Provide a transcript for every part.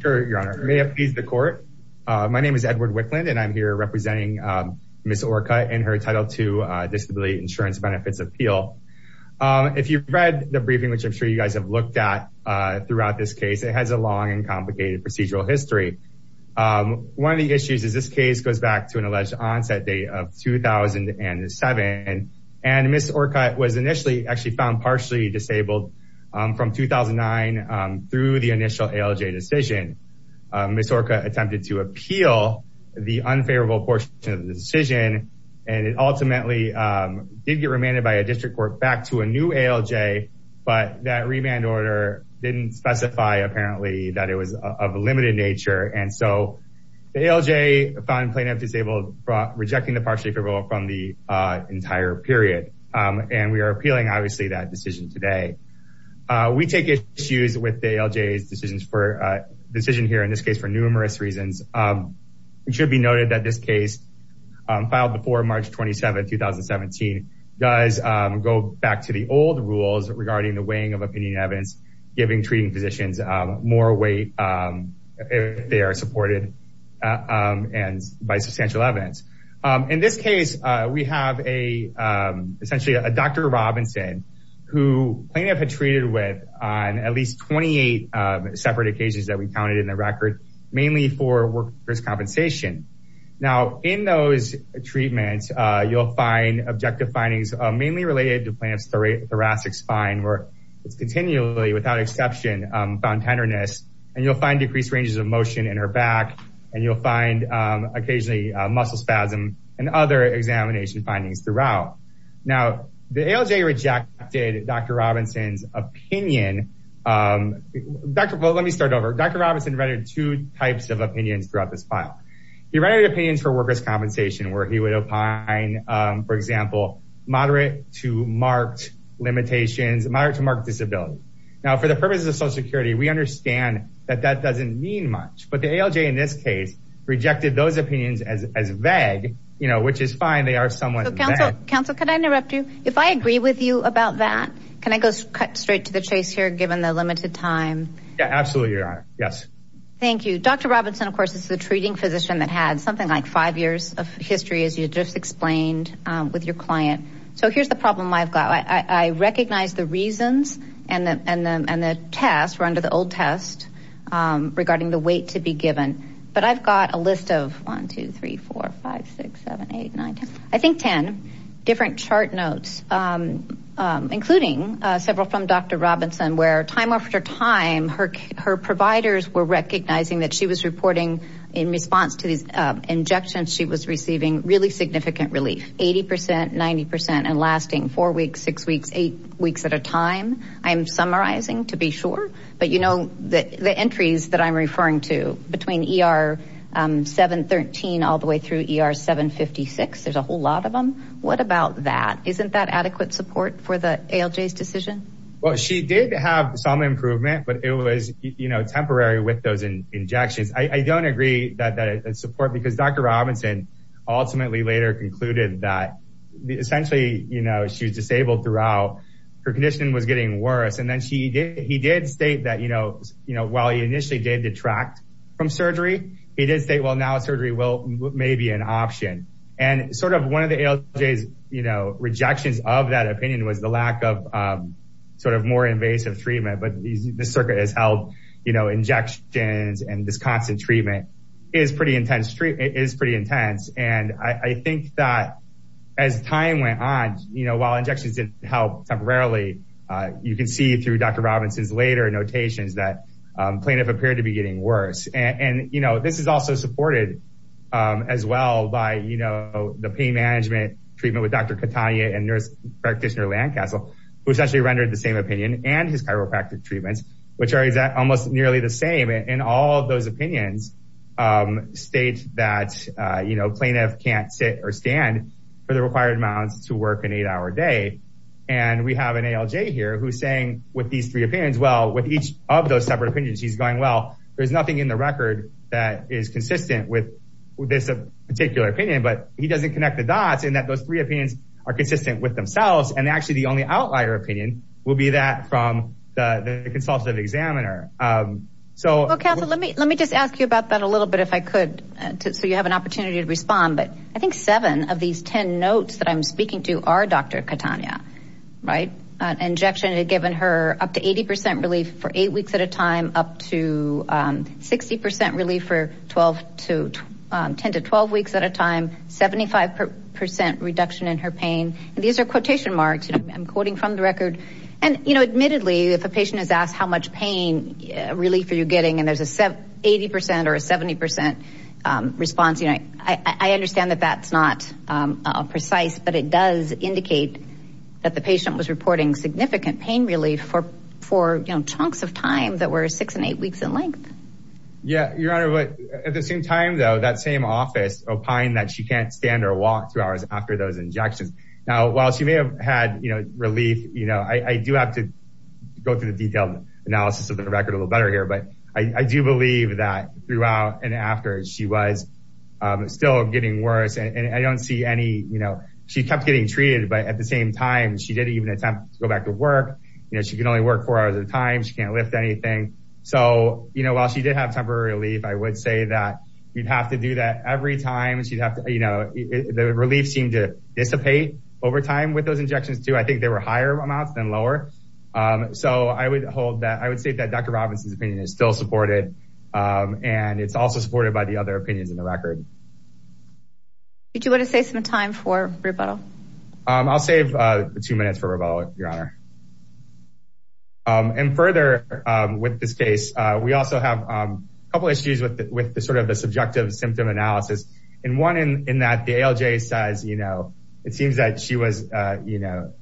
Sure, Your Honor. May it please the court. My name is Edward Wicklund and I'm here representing Ms. Orcutt in her Title II Disability Insurance Benefits Appeal. If you've read the briefing, which I'm sure you guys have looked at throughout this case, it has a long and complicated procedural history. One of the issues is this case goes back to an alleged onset date of 2007. And Ms. Orcutt was initially actually found partially disabled from 2009 through the initial ALJ decision. Ms. Orcutt attempted to appeal the unfavorable portion of the decision and it ultimately did get remanded by a district court back to a new ALJ, but that remand order didn't specify, apparently, that it was of a limited nature. And so the ALJ found plaintiff disabled, rejecting the partially favorable from the entire period. And we are appealing, obviously, that decision today. We take issues with the ALJ's decision here, in this case, for numerous reasons. It should be noted that this case, filed before March 27, 2017, does go back to the old rules regarding the weighing of opinion and evidence, giving treating physicians more weight if they supported by substantial evidence. In this case, we have essentially a Dr. Robinson, who plaintiff had treated with on at least 28 separate occasions that we counted in the record, mainly for workers' compensation. Now, in those treatments, you'll find objective findings mainly related to plaintiff's thoracic spine, where it's continually, without exception, found tenderness, and you'll find decreased ranges of motion in her back, and you'll find occasionally muscle spasm and other examination findings throughout. Now, the ALJ rejected Dr. Robinson's opinion. Let me start over. Dr. Robinson readied two types of opinions throughout this file. He readied opinions for workers' compensation, where he would opine, for example, moderate to social security. We understand that that doesn't mean much, but the ALJ, in this case, rejected those opinions as vague, which is fine. They are somewhat vague. Counsel, could I interrupt you? If I agree with you about that, can I go straight to the chase here, given the limited time? Yeah, absolutely, Your Honor. Yes. Thank you. Dr. Robinson, of course, is the treating physician that had something like five years of history, as you just explained with your client. So, here's the problem I've got. I think 10 different chart notes, including several from Dr. Robinson, where, time after time, her providers were recognizing that she was reporting, in response to these injections, she was receiving really significant relief, 80%, 90%, and lasting four weeks, six weeks, eight weeks at a time, I'm summarizing, to be sure. But, you know, the entries that I'm referring to, between ER 713, all the way through ER 756, there's a whole lot of them. What about that? Isn't that adequate support for the ALJ's decision? Well, she did have some improvement, but it was, you know, temporary with those injections. I don't agree that that is support, because Dr. Robinson ultimately later concluded that, essentially, you know, she was disabled throughout. Her condition was getting worse, and then he did state that, you know, while he initially did detract from surgery, he did state, well, now surgery may be an option. And, sort of, one of the ALJ's, you know, rejections of that opinion was the lack of, sort of, more invasive treatment. But, the circuit has held, you know, injections, and this constant treatment is pretty intense. And, I think that, as time went on, you know, while injections didn't help temporarily, you can see through Dr. Robinson's later notations that plaintiff appeared to be getting worse. And, you know, this is also supported, as well, by, you know, the pain management treatment with Dr. Catania and nurse practitioner Lancastle, who essentially rendered the same opinion, and his chiropractic treatments, which are almost nearly the same in all of those opinions, state that, you know, plaintiff can't sit or stand for the required amounts to work an eight-hour day. And, we have an ALJ here who's saying, with these three opinions, well, with each of those separate opinions, he's going, well, there's nothing in the record that is consistent with this particular opinion. But, he doesn't connect the dots, in that those three opinions are consistent with the record. And, you know, admittedly, if a patient is asked, how much pain relief are you getting, and there's an 80% or a 70% response, you know, I understand that that's not precise, but it does indicate that the patient was reporting significant pain relief for, you know, chunks of time that were six and eight weeks in length. Yeah, Your Honor, but at the same time, though, that same office opined that she can't stand or walk two hours after those injections. Now, while she may have had, you know, relief, you know, I do have to go through the detailed analysis of the record a little better here, but I do believe that throughout and after, she was still getting worse. And, I don't see any, you know, she kept getting treated, but at the same time, she didn't even attempt to go back to work. You know, she can only work four hours at a time. She can't lift anything. So, you know, while she did have temporary relief, I would say that you'd have to do that every time. She'd have to, you know, the relief seemed to dissipate over time with those injections, too. I think they were higher amounts than lower. So, I would hold that, I would say that Dr. Robinson's opinion is still supported, and it's also supported by the other opinions in the record. Did you want to save some time for rebuttal? I'll save two minutes for rebuttal, Your Honor. And further with this case, we also have a couple issues with the sort of the subjective symptom analysis, and one in that the ALJ says, you know, it seems that she was, you know,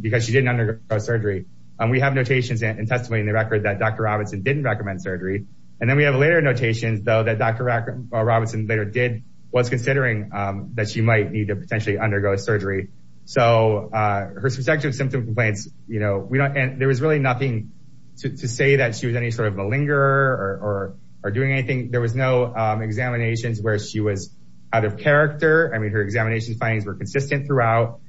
because she didn't undergo surgery. We have notations and testimony in the record that Dr. Robinson didn't recommend surgery, and then we have later notations, though, that Dr. Robinson later did, was considering that she might need to potentially undergo surgery. So, her subjective symptom complaints, you know, we don't, and there was really nothing to say that she was any sort of a lingerer or doing anything. There was no examinations where she was out of character. I mean, her examination findings were consistent throughout.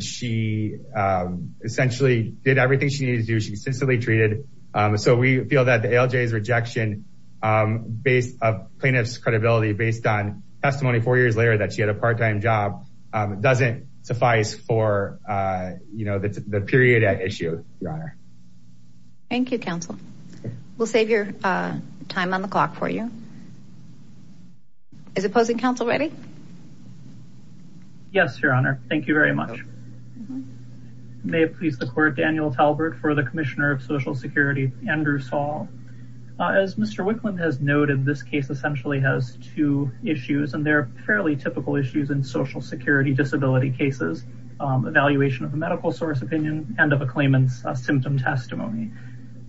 She essentially did everything she needed to do. She was consistently treated. So, we feel that the ALJ's rejection of plaintiff's credibility based on testimony four years later that she had a part-time job doesn't suffice for, you know, the period at issue, Your Honor. Thank you, counsel. We'll save your time on the clock for you. Is opposing counsel ready? Yes, Your Honor. Thank you very much. May it please the court, Daniel Talbert for the Commissioner of Social Security, Andrew Saul. As Mr. Wicklund has noted, this case essentially has two issues, and they're fairly typical issues in social security disability cases. Evaluation of a medical source opinion and of a claimant's symptom testimony.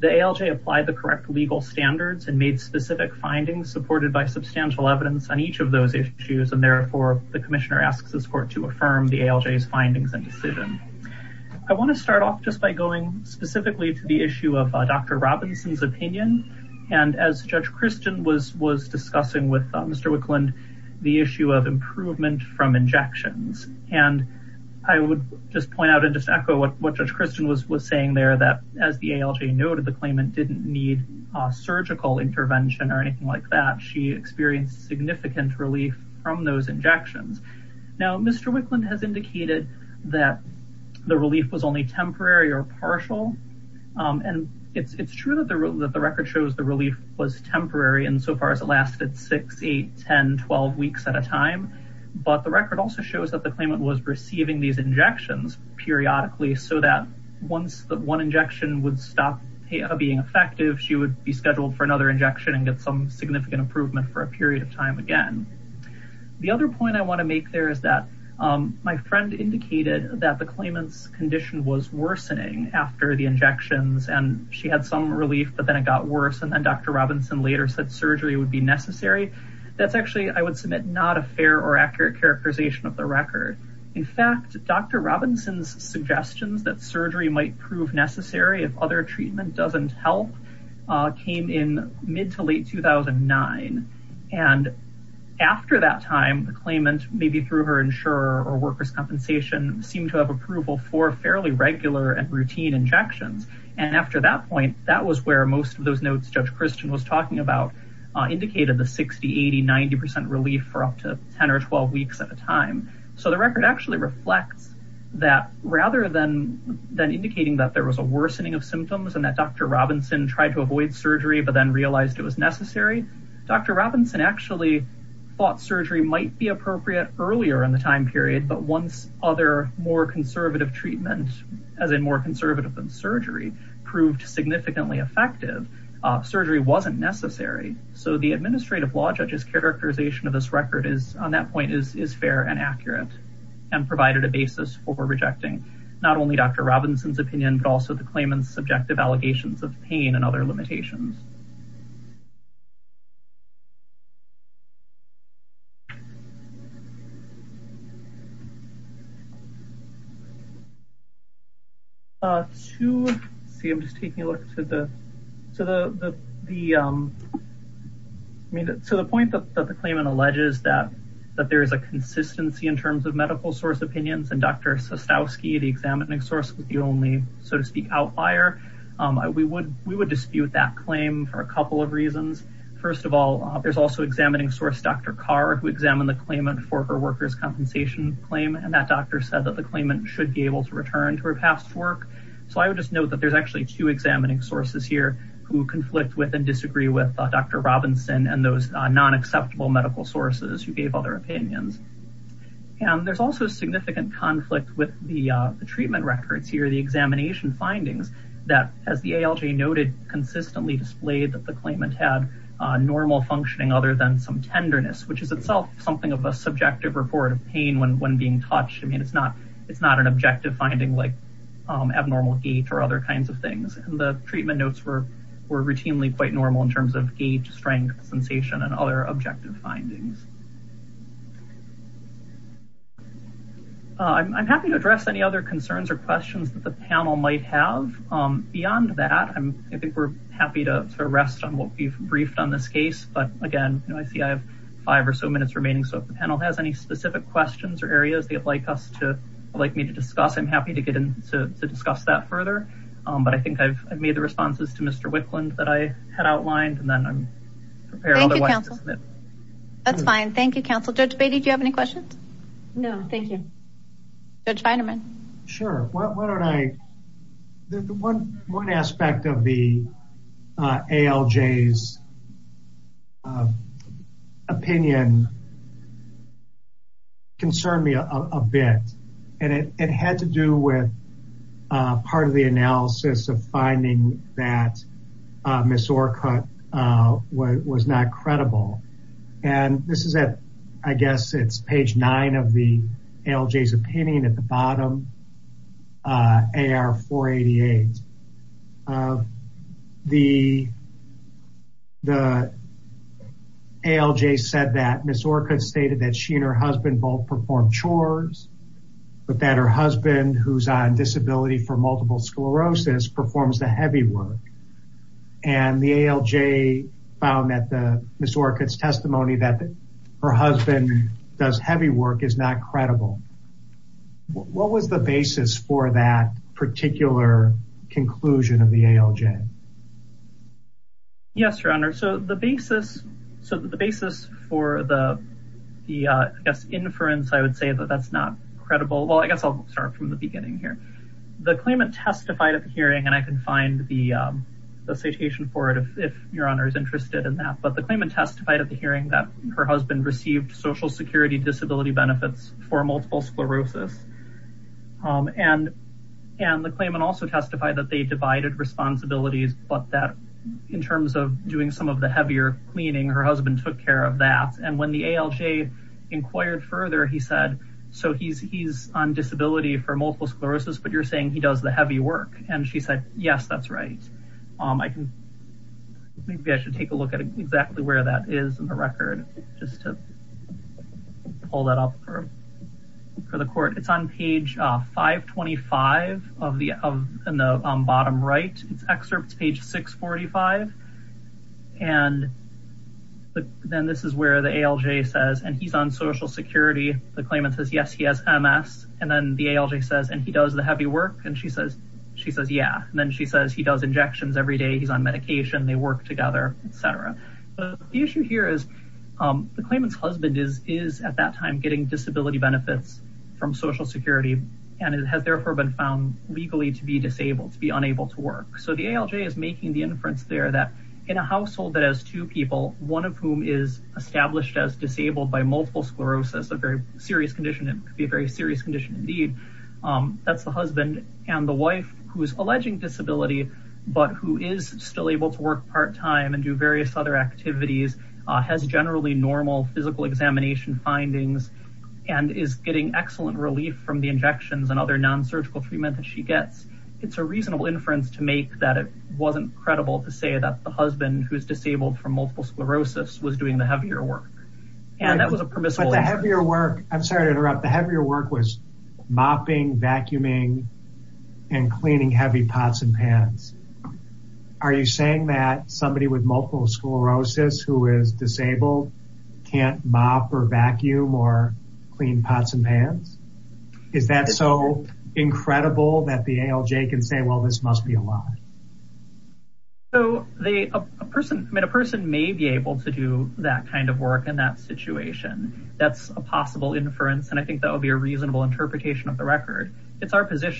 The ALJ applied the correct legal standards and made specific findings supported by substantial evidence on each of those issues, and therefore the Commissioner asks this court to affirm the ALJ's findings and decision. I want to start off just by going specifically to the issue of Dr. Robinson's opinion, and as Judge Christian was discussing with Mr. Wicklund, the issue of improvement from injections. And I would just point out and just echo what Judge Christian was saying there, that as the ALJ noted, the claimant didn't need surgical intervention or anything like that. She experienced significant relief from those injections. Now, Mr. Wicklund has indicated that the relief was only temporary or partial, and it's true that the record shows the relief was temporary insofar as it lasted 6, 8, 10, 12 weeks at a time. But the record also shows that the claimant was receiving these injections periodically so that once one injection would stop being effective, she would be scheduled for another injection and get some significant improvement for a period of time again. The other point I want to make there is that my friend indicated that the claimant's condition was worsening after the injections, and she had some relief, but then it got worse, and then Dr. Robinson later said surgery would be necessary. That's actually, I would submit, not a fair or suggestions that surgery might prove necessary if other treatment doesn't help, came in mid to late 2009. And after that time, the claimant, maybe through her insurer or workers' compensation, seemed to have approval for fairly regular and routine injections. And after that point, that was where most of those notes Judge Christian was talking about indicated the 60, 80, 90 percent relief for up to 10 or 12 weeks at a time. So the record actually reflects that rather than indicating that there was a worsening of symptoms and that Dr. Robinson tried to avoid surgery but then realized it was necessary, Dr. Robinson actually thought surgery might be appropriate earlier in the time period, but once other more conservative treatment, as in more conservative than surgery, proved significantly effective, surgery wasn't necessary. So the administrative law judge's characterization of this record is, on that point, is fair and accurate and provided a basis for rejecting not only Dr. Robinson's opinion but also the claimant's subjective allegations of pain and other limitations. So the point that the claimant alleges that there is a consistency in terms of medical source opinions and Dr. Sostowski, the examining source, was the only, so to speak, outlier, we would dispute that claim for a couple of reasons. First of all, there's also examining source Dr. Carr, who examined the claimant for her workers' compensation claim, and that doctor said that the claimant should be able to return to her past work. So I would just note that there's actually two examining sources here who conflict with and disagree with Dr. Robinson and those non-acceptable medical sources who gave other opinions. And there's also significant conflict with the treatment records here, the examination findings that, as the ALJ noted, consistently displayed that the claimant had normal functioning other than some tenderness, which is itself something of a subjective report of pain when being touched. I mean, it's not an objective finding like abnormal gait or other kinds of things, and the treatment notes were routinely quite normal in terms of gait, strength, sensation, and other objective findings. I'm happy to address any other concerns or questions that the panel might have. Beyond that, I think we're happy to rest on what we've briefed on this case. But again, I see I have five or so minutes remaining, so if the panel has any specific questions or areas they'd like me to discuss, I'm happy to get in to discuss that further. But I think I've made the responses to Mr. Wicklund that I had outlined, and then I'm prepared otherwise to submit. That's fine. Thank you, counsel. Judge Beatty, do you have any questions? No, thank you. Judge Viderman? Sure. One aspect of the ALJ's opinion concerned me a bit, and it had to do with part of the analysis of finding that Ms. Orcutt was not credible. And this is at, I guess, it's page nine of the ALJ's opinion at the bottom, AR 488. The ALJ said that Ms. Orcutt stated that she and her husband both performed chores, but that her husband, who's on disability for multiple sclerosis, performs the heavy work. And the ALJ found that Ms. Orcutt's testimony that her husband does heavy work is not credible. What was the basis for that particular conclusion of the ALJ? Yes, Your Honor. So the basis for the inference, I would say that that's not credible. Well, I guess I'll start from the beginning here. The claimant testified at the hearing, and I can find the citation for it if Your Honor is interested in that. But the claimant testified at the hearing that her husband received Social Security disability benefits for multiple sclerosis. And the claimant also testified that they divided responsibilities but that in terms of doing some of the heavier cleaning, her husband took care of that. And when the ALJ inquired further, he said, so he's on disability for multiple sclerosis, but you're saying he does the heavy work. And she said, yes, that's right. Maybe I should take a look at exactly where that is in the record, just to pull that up for the court. It's on page 525 of the bottom right. It's excerpts page 645. And then this is where the ALJ says, and he's on Social Security. The claimant says, yes, he has MS. And then the ALJ says, and he does the heavy work. And she says, yeah. And then she says, he does injections every day. He's on medication. They work together, et cetera. But the issue here is the claimant's husband is at that time getting disability benefits from Social Security. And it has therefore been found legally to be disabled, to be unable to work. So the ALJ is making the inference there that in a household that has two people, one of whom is established as disabled by multiple sclerosis, a very serious condition. It could be a very serious condition indeed. That's the husband and the wife who's alleging disability, but who is still able to work part-time and do various other activities, has generally normal physical examination findings, and is getting excellent relief from the injections and other non-surgical treatment that she gets. It's a reasonable inference to make that it wasn't credible to say that the husband who's disabled from multiple sclerosis was doing the heavier work. And that was a permissible- But the heavier work, I'm sorry to interrupt. The heavier work was mopping, vacuuming, and cleaning heavy pots and pans. Are you saying that somebody with multiple sclerosis who is disabled can't mop or vacuum or clean pots and pans? Is that so incredible that the ALJ can say, well, this must be a lie? So a person may be able to do that kind of work in that situation. That's a possible inference, and I think that would be a reasonable interpretation of the record. It's our at whether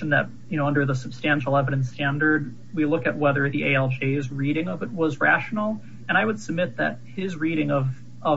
the ALJ's reading of it was rational, and I would submit that his reading of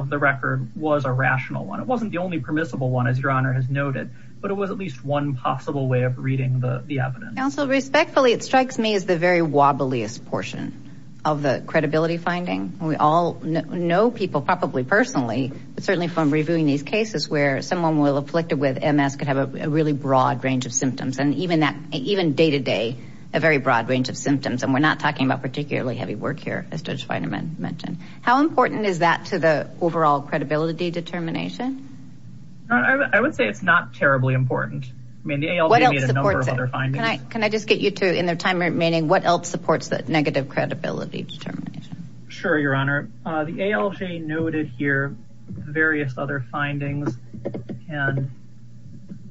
the record was a rational one. It wasn't the only permissible one, as Your Honor has noted, but it was at least one possible way of reading the evidence. Counsel, respectfully, it strikes me as the very wobbliest portion of the credibility finding. We all know people, probably personally, but certainly from reviewing these cases where someone afflicted with MS could have a really broad range of symptoms, and even day-to-day, a very broad range of symptoms, and we're not talking about particularly heavy work here, as Judge Weinerman mentioned. How important is that to the overall credibility determination? I would say it's not terribly important. I mean, the ALJ made a number of other findings. Can I just get you to, in the time remaining, what else supports the negative credibility determination? Sure, Your Honor. The ALJ noted here various other findings, and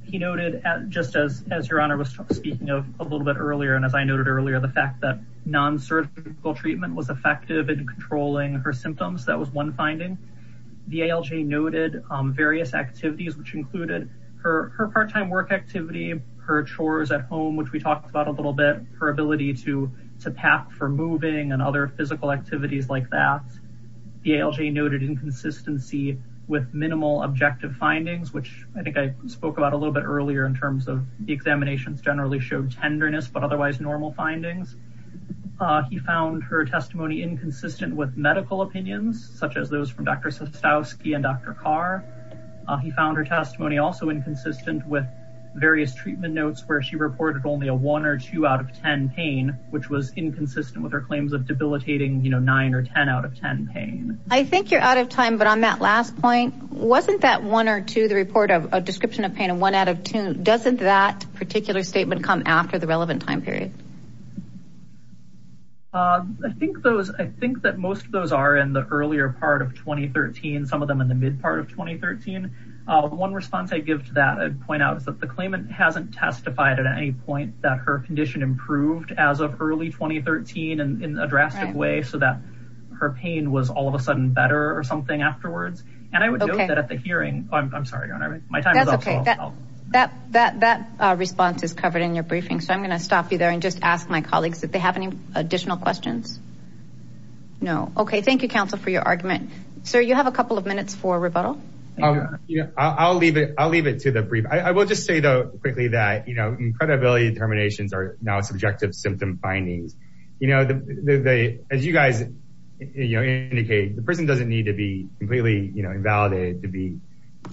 he noted, just as Your Honor was speaking of a little bit earlier, and as I noted earlier, the fact that non-surgical treatment was effective in controlling her symptoms. That was one finding. The ALJ noted various activities, which included her part-time work activity, her chores at home, which we talked about a little bit, her ability to pack for moving and other physical activities like that. The ALJ noted inconsistency with minimal objective findings, which I think I spoke about a little bit earlier in terms of the examinations generally showed tenderness, but otherwise normal findings. He found her testimony inconsistent with medical opinions, such as those from Dr. Sostowski and Dr. Carr. He found her testimony also inconsistent with various treatment notes where she reported only a one or two out of ten pain, which was inconsistent with her claims of debilitating, you know, nine or ten out of ten pain. I think you're out of time, but on that last point, wasn't that one or two, the report of a description of pain, a one out of two, doesn't that particular statement come after the relevant time period? I think that most of those are in the earlier part of 2013, some of them in the mid part of 2013. One response I give to that, I'd point out, is that the claimant hasn't testified at any point that her condition improved as of early 2013 in a drastic way, so that her pain was all of a sudden better or something afterwards, and I would note that at the hearing, oh I'm sorry, my time is up. That response is covered in your briefing, so I'm going to stop you there and just ask my colleagues if they have any additional questions. No, okay, thank you counsel for your argument. Sir, you have a couple of minutes for rebuttal. I'll leave it to the brief. I will just say though quickly that, you know, incredibility determinations are now subjective symptom findings. You know, as you guys, you know, indicate, the person doesn't need to be completely, you know, invalidated to be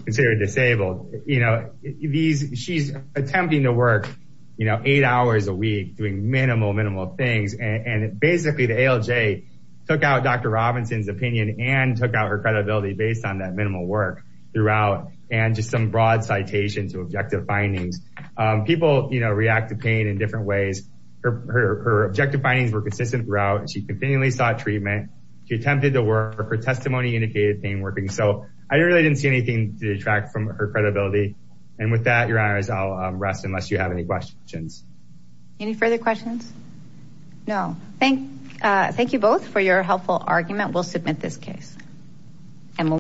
considered disabled. You know, these, she's attempting to work, you know, eight hours a week doing minimal, minimal things, and basically the ALJ took out Dr. Robinson's opinion and took out her credibility based on that minimal work throughout, and just some broad citation to objective findings. People, you know, react to pain in different ways. Her objective findings were consistent throughout, and she continually sought treatment. She attempted to work. Her testimony indicated pain working, so I really didn't see anything to detract from her credibility, and with that, your honors, I'll rest unless you have any questions. Any further questions? No, thank you both for your helpful argument. We'll submit this case, and we'll